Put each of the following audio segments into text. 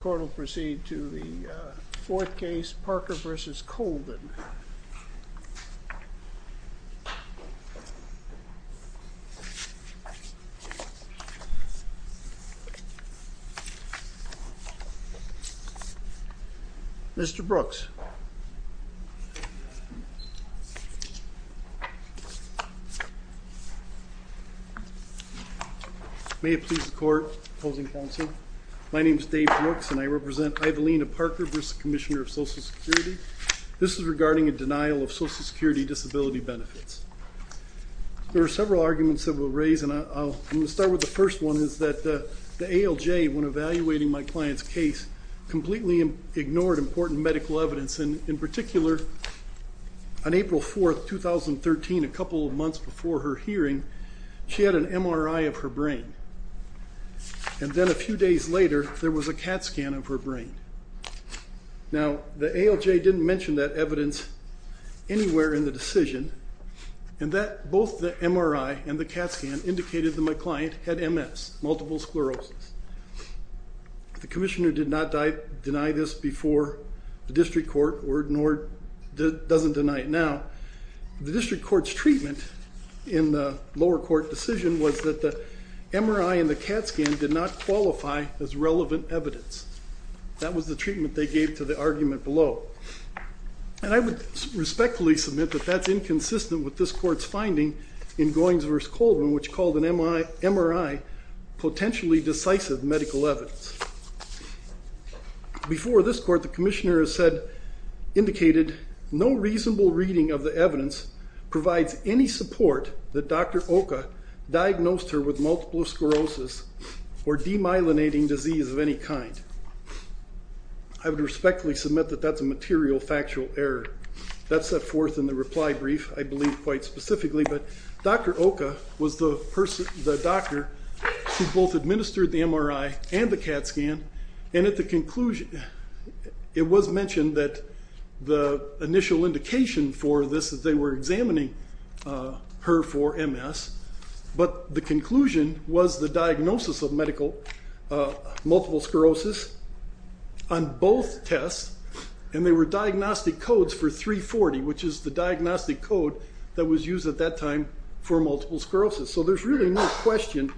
The court will proceed to the fourth case, Parker v. Colvin. Mr. Brooks May it please the court, opposing counsel, my name is Dave Brooks and I represent I'Leana Parker v. Commissioner of Social Security. This is regarding a denial of Social Security disability benefits. There are several arguments that we'll raise and I'll start with the first one is that the ALJ, when evaluating my client's case, completely ignored important medical evidence. In particular, on April 4th, 2013, a couple of months before her hearing, she had an MRI of her brain. And then a few days later, there was a CAT scan of her brain. Now, the ALJ didn't mention that evidence anywhere in the decision and that both the MRI and the CAT scan indicated that my client had MS, multiple sclerosis. The commissioner did not deny this before the district court or doesn't deny it now. The district court's treatment in the lower court decision was that the MRI and the CAT scan did not qualify as relevant evidence. That was the treatment they gave to the argument below. And I would respectfully submit that that's inconsistent with this court's finding in Goins v. Colvin, which called an MRI potentially decisive medical evidence. Before this court, the commissioner has said, indicated, no reasonable reading of the evidence provides any support that Dr. Oka diagnosed her with multiple sclerosis or demyelinating disease of any kind. I would respectfully submit that that's a material factual error. That's set forth in the reply brief, I believe quite specifically. But Dr. Oka was the person, the doctor who both administered the MRI and the CAT scan. And at the conclusion, it was mentioned that the initial indication for this is they were examining her for MS. But the conclusion was the diagnosis of multiple sclerosis on both tests. And they were diagnostic codes for 340, which is the diagnostic code that was used at that time for multiple sclerosis. So there's really no question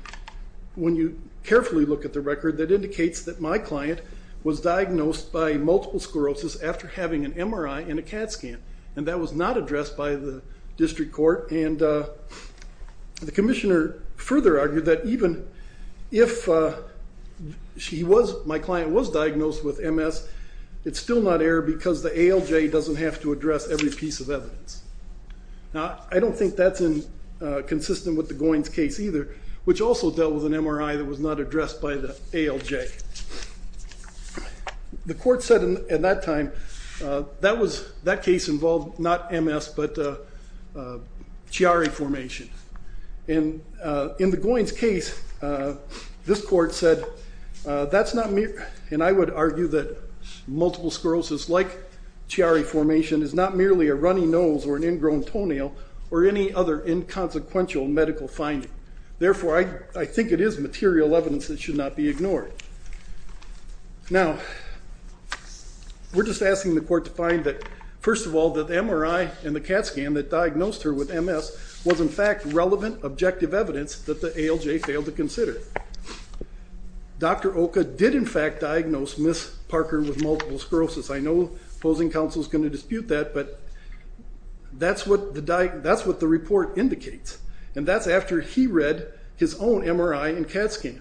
when you carefully look at the record that indicates that my client was diagnosed by multiple sclerosis after having an MRI and a CAT scan. And that was not addressed by the district court. And the commissioner further argued that even if my client was diagnosed with MS, it's still not error because the ALJ doesn't have to address every piece of evidence. Now, I don't think that's consistent with the Goins case either, which also dealt with an MRI that was not addressed by the ALJ. The court said at that time, that case involved not MS, but Chiari formation. And in the Goins case, this court said, that's not me. And I would argue that multiple sclerosis, like Chiari formation, is not merely a runny nose or an ingrown toenail or any other inconsequential medical finding. Therefore, I think it is material evidence that should not be ignored. Now, we're just asking the court to find that, first of all, that the MRI and the CAT scan that diagnosed her with MS was in fact relevant objective evidence that the ALJ failed to consider. Dr. Oka did in fact diagnose Ms. Parker with multiple sclerosis. I know opposing counsel is going to dispute that, but that's what the report indicates. And that's after he read his own MRI and CAT scan.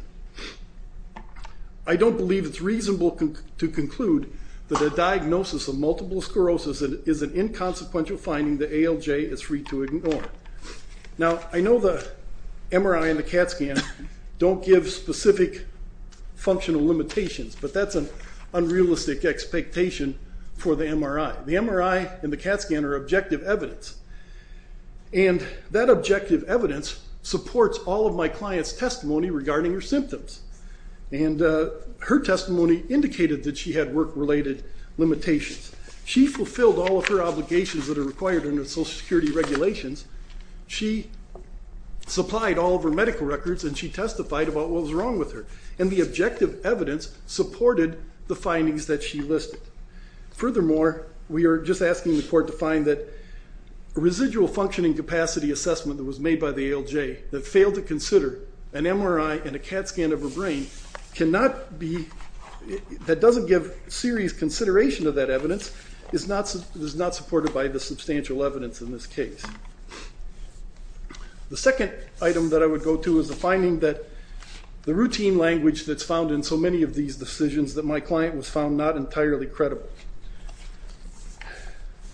I don't believe it's reasonable to conclude that a diagnosis of multiple sclerosis is an inconsequential finding that ALJ is free to ignore. Now, I know the MRI and the CAT scan don't give specific functional limitations, but that's an unrealistic expectation for the MRI. The MRI and the CAT scan are objective evidence. And that objective evidence supports all of my client's testimony regarding her symptoms. And her testimony indicated that she had work-related limitations. She fulfilled all of her obligations that are required under Social Security regulations. She supplied all of her medical records, and she testified about what was wrong with her. And the objective evidence supported the findings that she listed. Furthermore, we are just asking the court to find that residual functioning capacity assessment that was made by the ALJ, that failed to consider an MRI and a CAT scan of her brain, that doesn't give serious consideration to that evidence, is not supported by the substantial evidence in this case. The second item that I would go to is the finding that the routine language that's found in so many of these decisions that my client was found not entirely credible.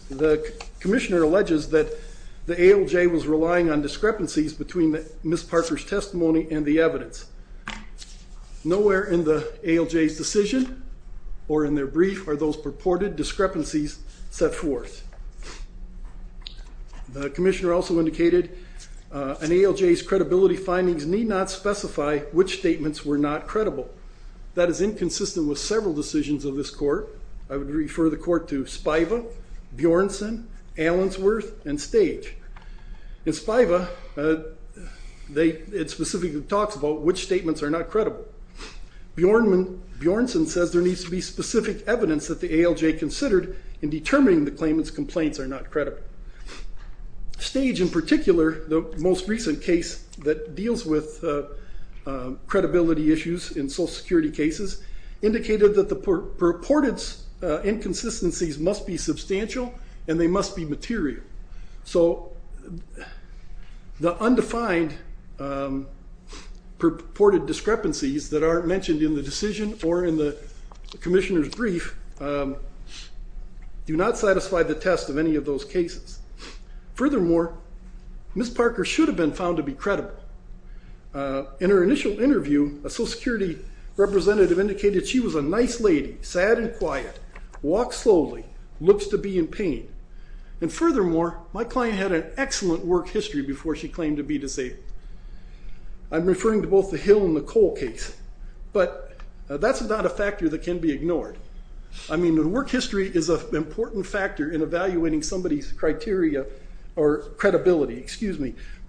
The commissioner alleges that the ALJ was relying on discrepancies between Ms. Parker's testimony and the evidence. Nowhere in the ALJ's decision or in their brief are those purported discrepancies set forth. The commissioner also indicated an ALJ's credibility findings need not specify which statements were not credible. That is inconsistent with several decisions of this court. I would refer the court to Spiva, Bjornsson, Allensworth, and Stage. In Spiva, it specifically talks about which statements are not credible. Bjornsson says there needs to be specific evidence that the ALJ considered in determining the claimant's complaints are not credible. Stage in particular, the most recent case that deals with credibility issues in social security cases, indicated that the purported inconsistencies must be substantial and they must be material. So the undefined purported discrepancies that are mentioned in the decision or in the commissioner's brief do not satisfy the test of any of those cases. Furthermore, Ms. Parker should have been found to be credible. In her initial interview, a social security representative indicated she was a nice lady, sad and quiet, walks slowly, looks to be in pain, and furthermore, my client had an excellent work history before she claimed to be disabled. I'm referring to both the Hill and the Cole case, but that's not a factor that can be ignored. I mean, the work history is an important factor in evaluating somebody's credibility.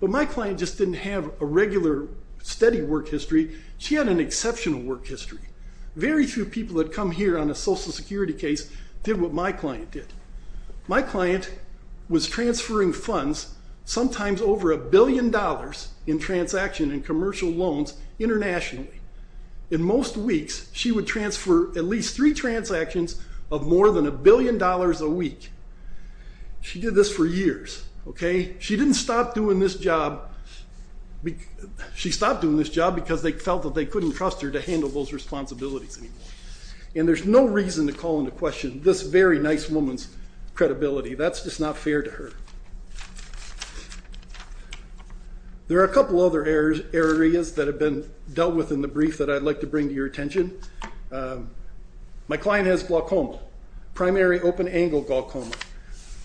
But my client just didn't have a regular steady work history. She had an exceptional work history. Very few people that come here on a social security case did what my client did. My client was transferring funds, sometimes over a billion dollars, in transaction and commercial loans internationally. In most weeks, she would transfer at least three transactions of more than a billion dollars a week. She did this for years, okay? She didn't stop doing this job. She stopped doing this job because they felt that they couldn't trust her to handle those responsibilities anymore. And there's no reason to call into question this very nice woman's credibility. That's just not fair to her. There are a couple other areas that have been dealt with in the brief that I'd like to bring to your attention. My client has glaucoma, primary open-angle glaucoma,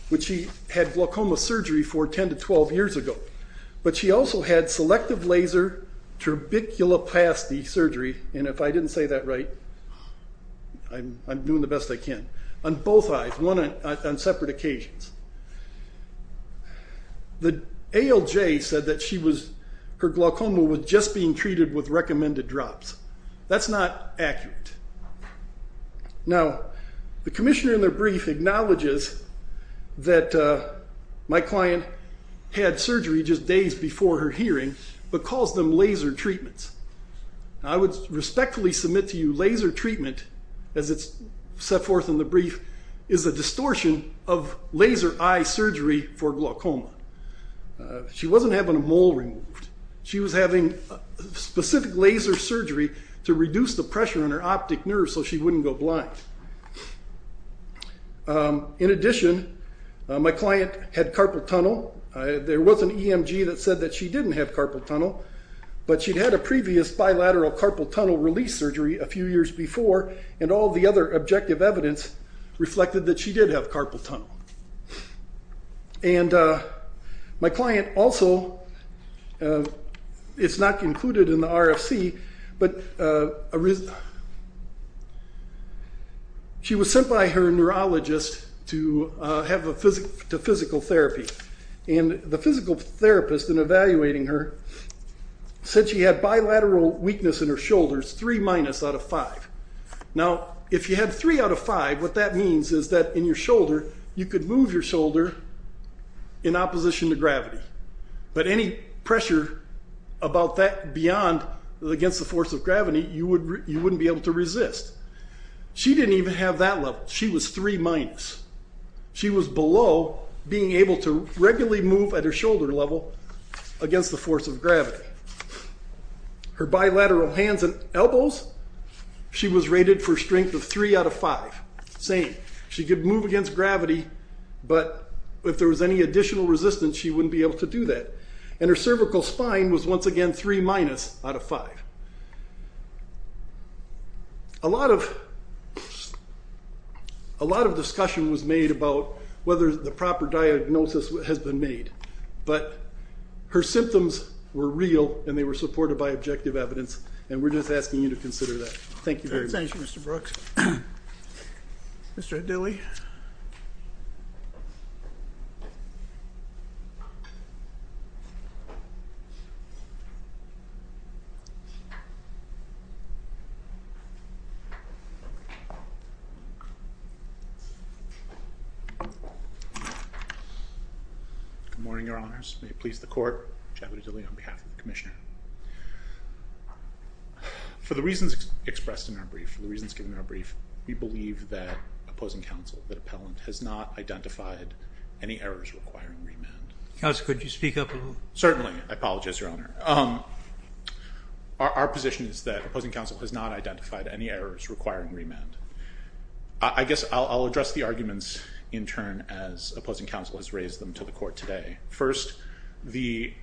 which she had glaucoma surgery for 10 to 12 years ago. But she also had selective laser tuberculoplasty surgery, and if I didn't say that right, I'm doing the best I can, on both eyes, on separate occasions. The ALJ said that her glaucoma was just being treated with recommended drops. That's not accurate. Now, the commissioner in the brief acknowledges that my client had surgery just days before her hearing, but calls them laser treatments. I would respectfully submit to you laser treatment, as it's set forth in the brief, is a distortion of laser eye surgery for glaucoma. She wasn't having a mole removed. She was having specific laser surgery to reduce the pressure on her optic nerve so she wouldn't go blind. In addition, my client had carpal tunnel. There was an EMG that said that she didn't have carpal tunnel, but she'd had a previous bilateral carpal tunnel release surgery a few years before, and all the other objective evidence reflected that she did have carpal tunnel. My client also, it's not included in the RFC, but she was sent by her neurologist to physical therapy, and the physical therapist, in evaluating her, said she had bilateral weakness in her shoulders, 3 minus out of 5. Now, if you had 3 out of 5, what that means is that in your shoulder, you could move your shoulder in opposition to gravity, but any pressure about that beyond, against the force of gravity, you wouldn't be able to resist. She didn't even have that level. She was 3 minus. She was below being able to regularly move at her shoulder level against the force of gravity. Her bilateral hands and elbows, she was rated for strength of 3 out of 5. Same. She could move against gravity, but if there was any additional resistance, she wouldn't be able to do that. And her cervical spine was once again 3 minus out of 5. A lot of discussion was made about whether the proper diagnosis has been made, but her symptoms were real, and they were supported by objective evidence, and we're just asking you to consider that. Thank you very much. Thank you, Mr. Brooks. Mr. Adili. Good morning, Your Honors. May it please the Court. Chad Adili on behalf of the Commissioner. For the reasons expressed in our brief, the reasons given in our brief, we believe that opposing counsel, that appellant, has not identified any errors requiring remand. Counsel, could you speak up a little? Certainly. I apologize, Your Honor. Our position is that opposing counsel has not identified any errors requiring remand. I guess I'll address the arguments in turn as opposing counsel has raised them to the Court today. First, the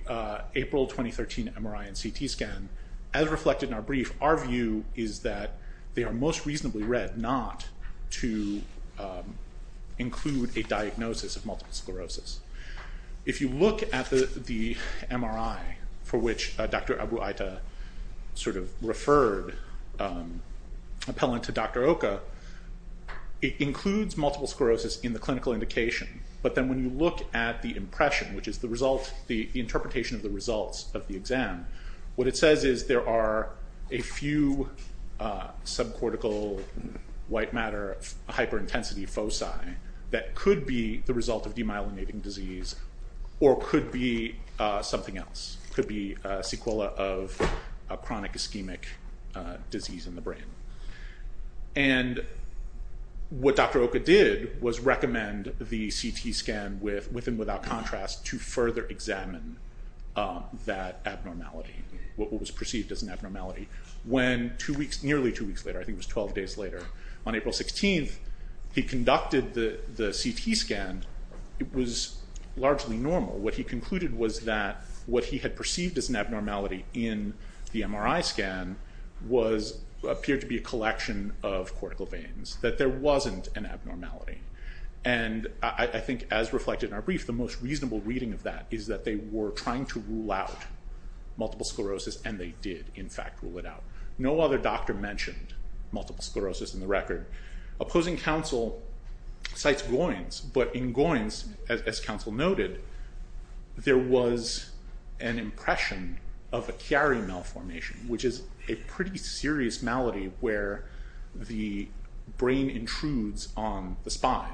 April 2013 MRI and CT scan, as reflected in our brief, our view is that they are most reasonably read not to include a diagnosis of multiple sclerosis. If you look at the MRI for which Dr. Abu-Aita referred appellant to Dr. Oka, it includes multiple sclerosis in the clinical indication, but then when you look at the impression, which is the interpretation of the results of the exam, what it says is there are a few subcortical white matter hyperintensity foci that could be the result of demyelinating disease or could be something else, could be a sequela of a chronic ischemic disease in the brain. And what Dr. Oka did was recommend the CT scan with and without contrast to further examine that abnormality, what was perceived as an abnormality, when nearly two weeks later, I think it was 12 days later, on April 16th, he conducted the CT scan, it was largely normal. What he concluded was that what he had perceived as an abnormality in the MRI scan appeared to be a collection of cortical veins, that there wasn't an abnormality. And I think, as reflected in our brief, the most reasonable reading of that is that they were trying to rule out multiple sclerosis and they did, in fact, rule it out. No other doctor mentioned multiple sclerosis in the record. Opposing counsel cites Goins, but in Goins, as counsel noted, there was an impression of a Chiari malformation, which is a pretty serious malady where the brain intrudes on the spine.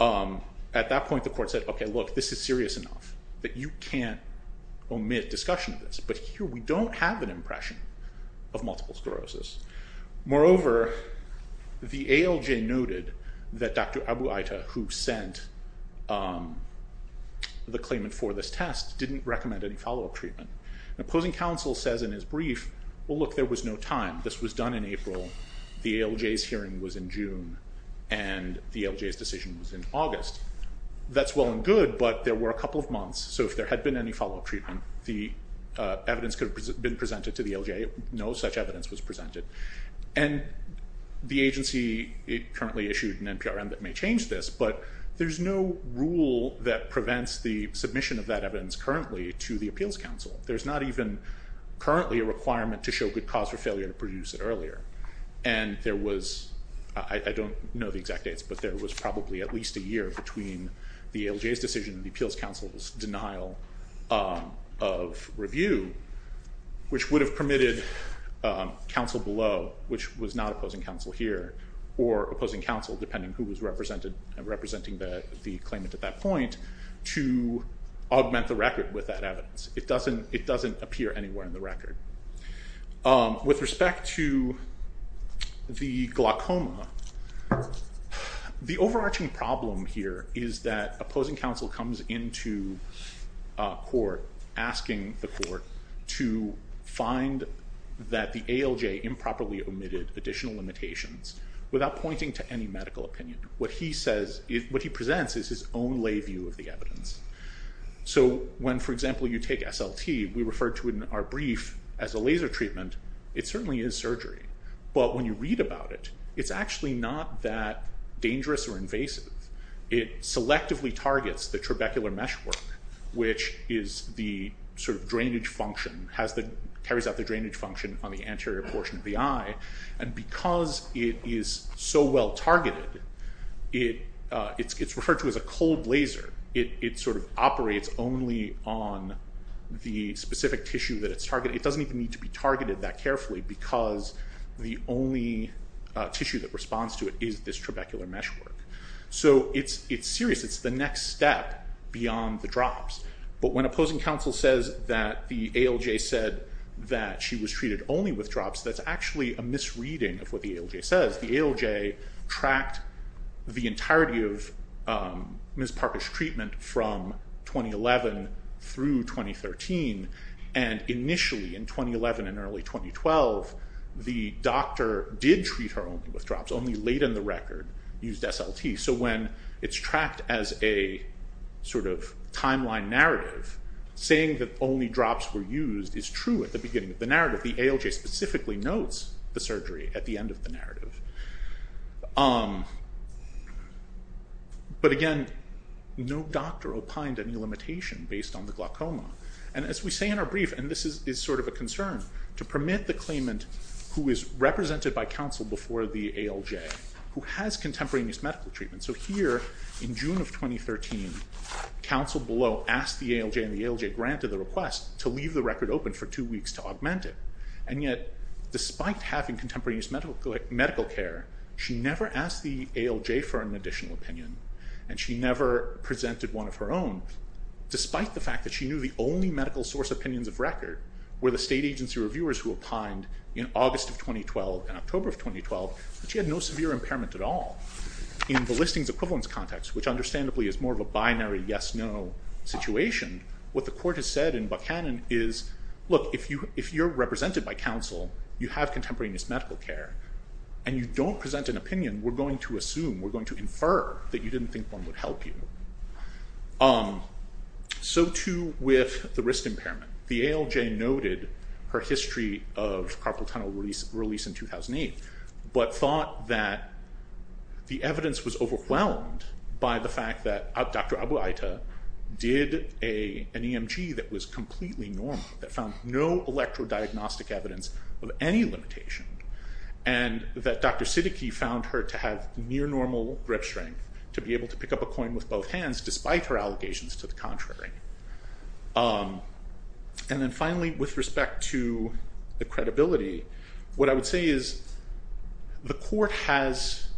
At that point, the court said, okay, look, this is serious enough that you can't omit discussion of this. But here we don't have an impression of multiple sclerosis. Moreover, the ALJ noted that Dr. Abu-Aita, who sent the claimant for this test, didn't recommend any follow-up treatment. And opposing counsel says in his brief, well, look, there was no time. This was done in April, the ALJ's hearing was in June, and the ALJ's decision was in August. That's well and good, but there were a couple of months, so if there had been any follow-up treatment, the evidence could have been presented to the ALJ. No such evidence was presented. And the agency currently issued an NPRM that may change this, but there's no rule that prevents the submission of that evidence currently to the appeals counsel. There's not even currently a requirement to show good cause for failure to produce it earlier. And there was, I don't know the exact dates, but there was probably at least a year between the ALJ's decision and the appeals counsel's denial of review, which would have permitted counsel below, which was not opposing counsel here, or opposing counsel, depending who was representing the claimant at that point, to augment the record with that evidence. It doesn't appear anywhere in the record. With respect to the glaucoma, the overarching problem here is that opposing counsel comes into court, asking the court to find that the ALJ improperly omitted additional limitations, without pointing to any medical opinion. What he says, what he presents is his own lay view of the evidence. So when, for example, you take SLT, we referred to in our brief as a laser treatment, it certainly is surgery. But when you read about it, it's actually not that dangerous or invasive. It selectively targets the trabecular meshwork, which is the sort of drainage function, carries out the drainage function on the anterior portion of the eye. And because it is so well targeted, it's referred to as a cold laser. It sort of operates only on the specific tissue that it's targeting. It doesn't even need to be targeted that carefully, because the only tissue that responds to it is this trabecular meshwork. So it's serious. It's the next step beyond the drops. But when opposing counsel says that the ALJ said that she was treated only with drops, that's actually a misreading of what the ALJ says. The ALJ tracked the entirety of Ms. Parker's treatment from 2011 through 2013. And initially, in 2011 and early 2012, the doctor did treat her only with drops, only late in the record used SLT. So when it's tracked as a sort of timeline narrative, saying that only drops were used is true at the beginning of the narrative. The ALJ specifically notes the surgery at the end of the narrative. But again, no doctor opined any limitation based on the glaucoma. And as we say in our brief, and this is sort of a concern, to permit the claimant who is represented by counsel before the ALJ, who has contemporaneous medical treatment. So here, in June of 2013, counsel below asked the ALJ, and the ALJ granted the request to leave the record open for two weeks to augment it. And yet, despite having contemporaneous medical care, she never asked the ALJ for an additional opinion, and she never presented one of her own, despite the fact that she knew the only medical source opinions of record were the state agency reviewers who opined in August of 2012 and October of 2012, but she had no severe impairment at all. In the listings equivalence context, which understandably is more of a binary yes-no situation, what the court has said in Buchanan is, look, if you're represented by counsel, you have contemporaneous medical care, and you don't present an opinion, we're going to assume, we're going to infer that you didn't think one would help you. So too with the wrist impairment. The ALJ noted her history of carpal tunnel release in 2008, but thought that the evidence was overwhelmed by the fact that Dr. Abu-Aita did an EMG that was completely normal, that found no electro-diagnostic evidence of any limitation, and that Dr. Siddiqui found her to have near-normal grip strength to be able to pick up a coin with both hands, despite her allegations to the contrary. And then finally, with respect to the credibility, what I would say is the court has,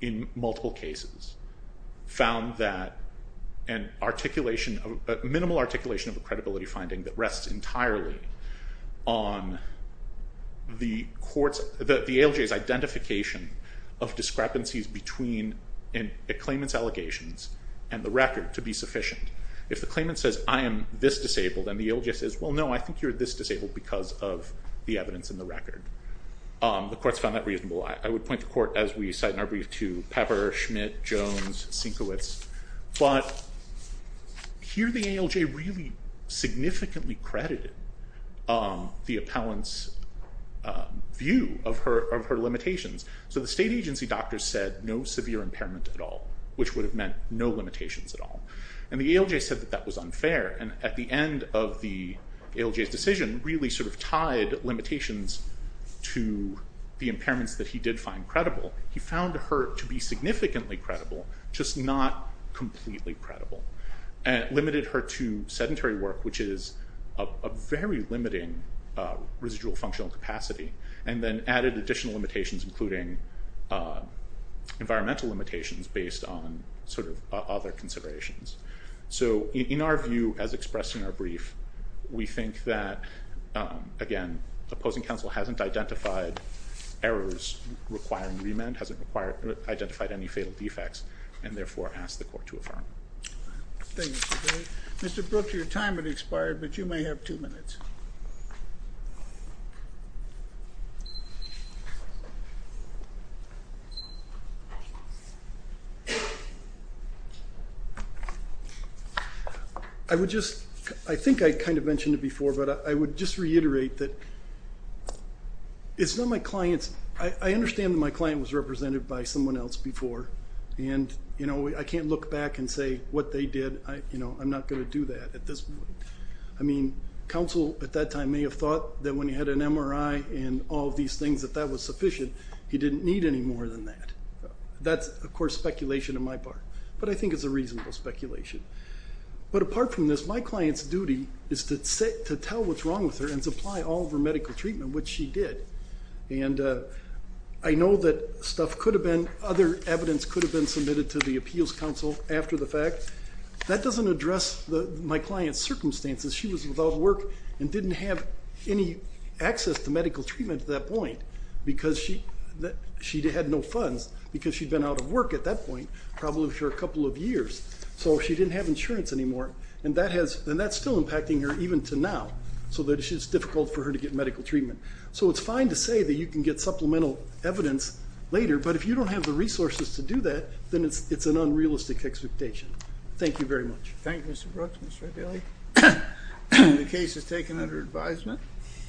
in multiple cases, found that a minimal articulation of a credibility finding that rests entirely on the ALJ's identification of discrepancies between a claimant's allegations and the record to be sufficient. If the claimant says, I am this disabled, and the ALJ says, well, no, I think you're this disabled because of the evidence in the record, the court's found that reasonable. I would point the court, as we cite in our brief, to Pepper, Schmidt, Jones, Sienkiewicz. But here the ALJ really significantly credited the appellant's view of her limitations. So the state agency doctor said no severe impairment at all, which would have meant no limitations at all. And the ALJ said that that was unfair. And at the end of the ALJ's decision, really sort of tied limitations to the impairments that he did find credible. He found her to be significantly credible, just not completely credible, and limited her to sedentary work, which is a very limiting residual functional capacity, and then added additional limitations, including environmental limitations based on sort of other considerations. So in our view, as expressed in our brief, we think that, again, opposing counsel hasn't identified errors requiring remand, hasn't identified any fatal defects, and therefore asked the court to affirm. Thank you. Mr. Brooks, your time has expired, but you may have two minutes. I would just ‑‑ I think I kind of mentioned it before, but I would just reiterate that it's not my client's ‑‑ I understand that my client was represented by someone else before, and, you know, I can't look back and say what they did. You know, I'm not going to do that at this point. I mean, counsel at that time may have thought that when he had an MRI and all of these things, that that was sufficient. He didn't need any more than that. That's, of course, speculation on my part. But I think it's a reasonable speculation. But apart from this, my client's duty is to tell what's wrong with her and supply all of her medical treatment, which she did. And I know that stuff could have been ‑‑ other evidence could have been submitted to the appeals counsel after the fact. That doesn't address my client's circumstances. She was without work and didn't have any access to medical treatment at that point because she had no funds because she'd been out of work at that point, probably for a couple of years. So she didn't have insurance anymore. And that's still impacting her even to now, so that it's difficult for her to get medical treatment. So it's fine to say that you can get supplemental evidence later, but if you don't have the resources to do that, then it's an unrealistic expectation. Thank you very much. Thank you, Mr. Brooks. Mr. Abelli. The case is taken under advisement.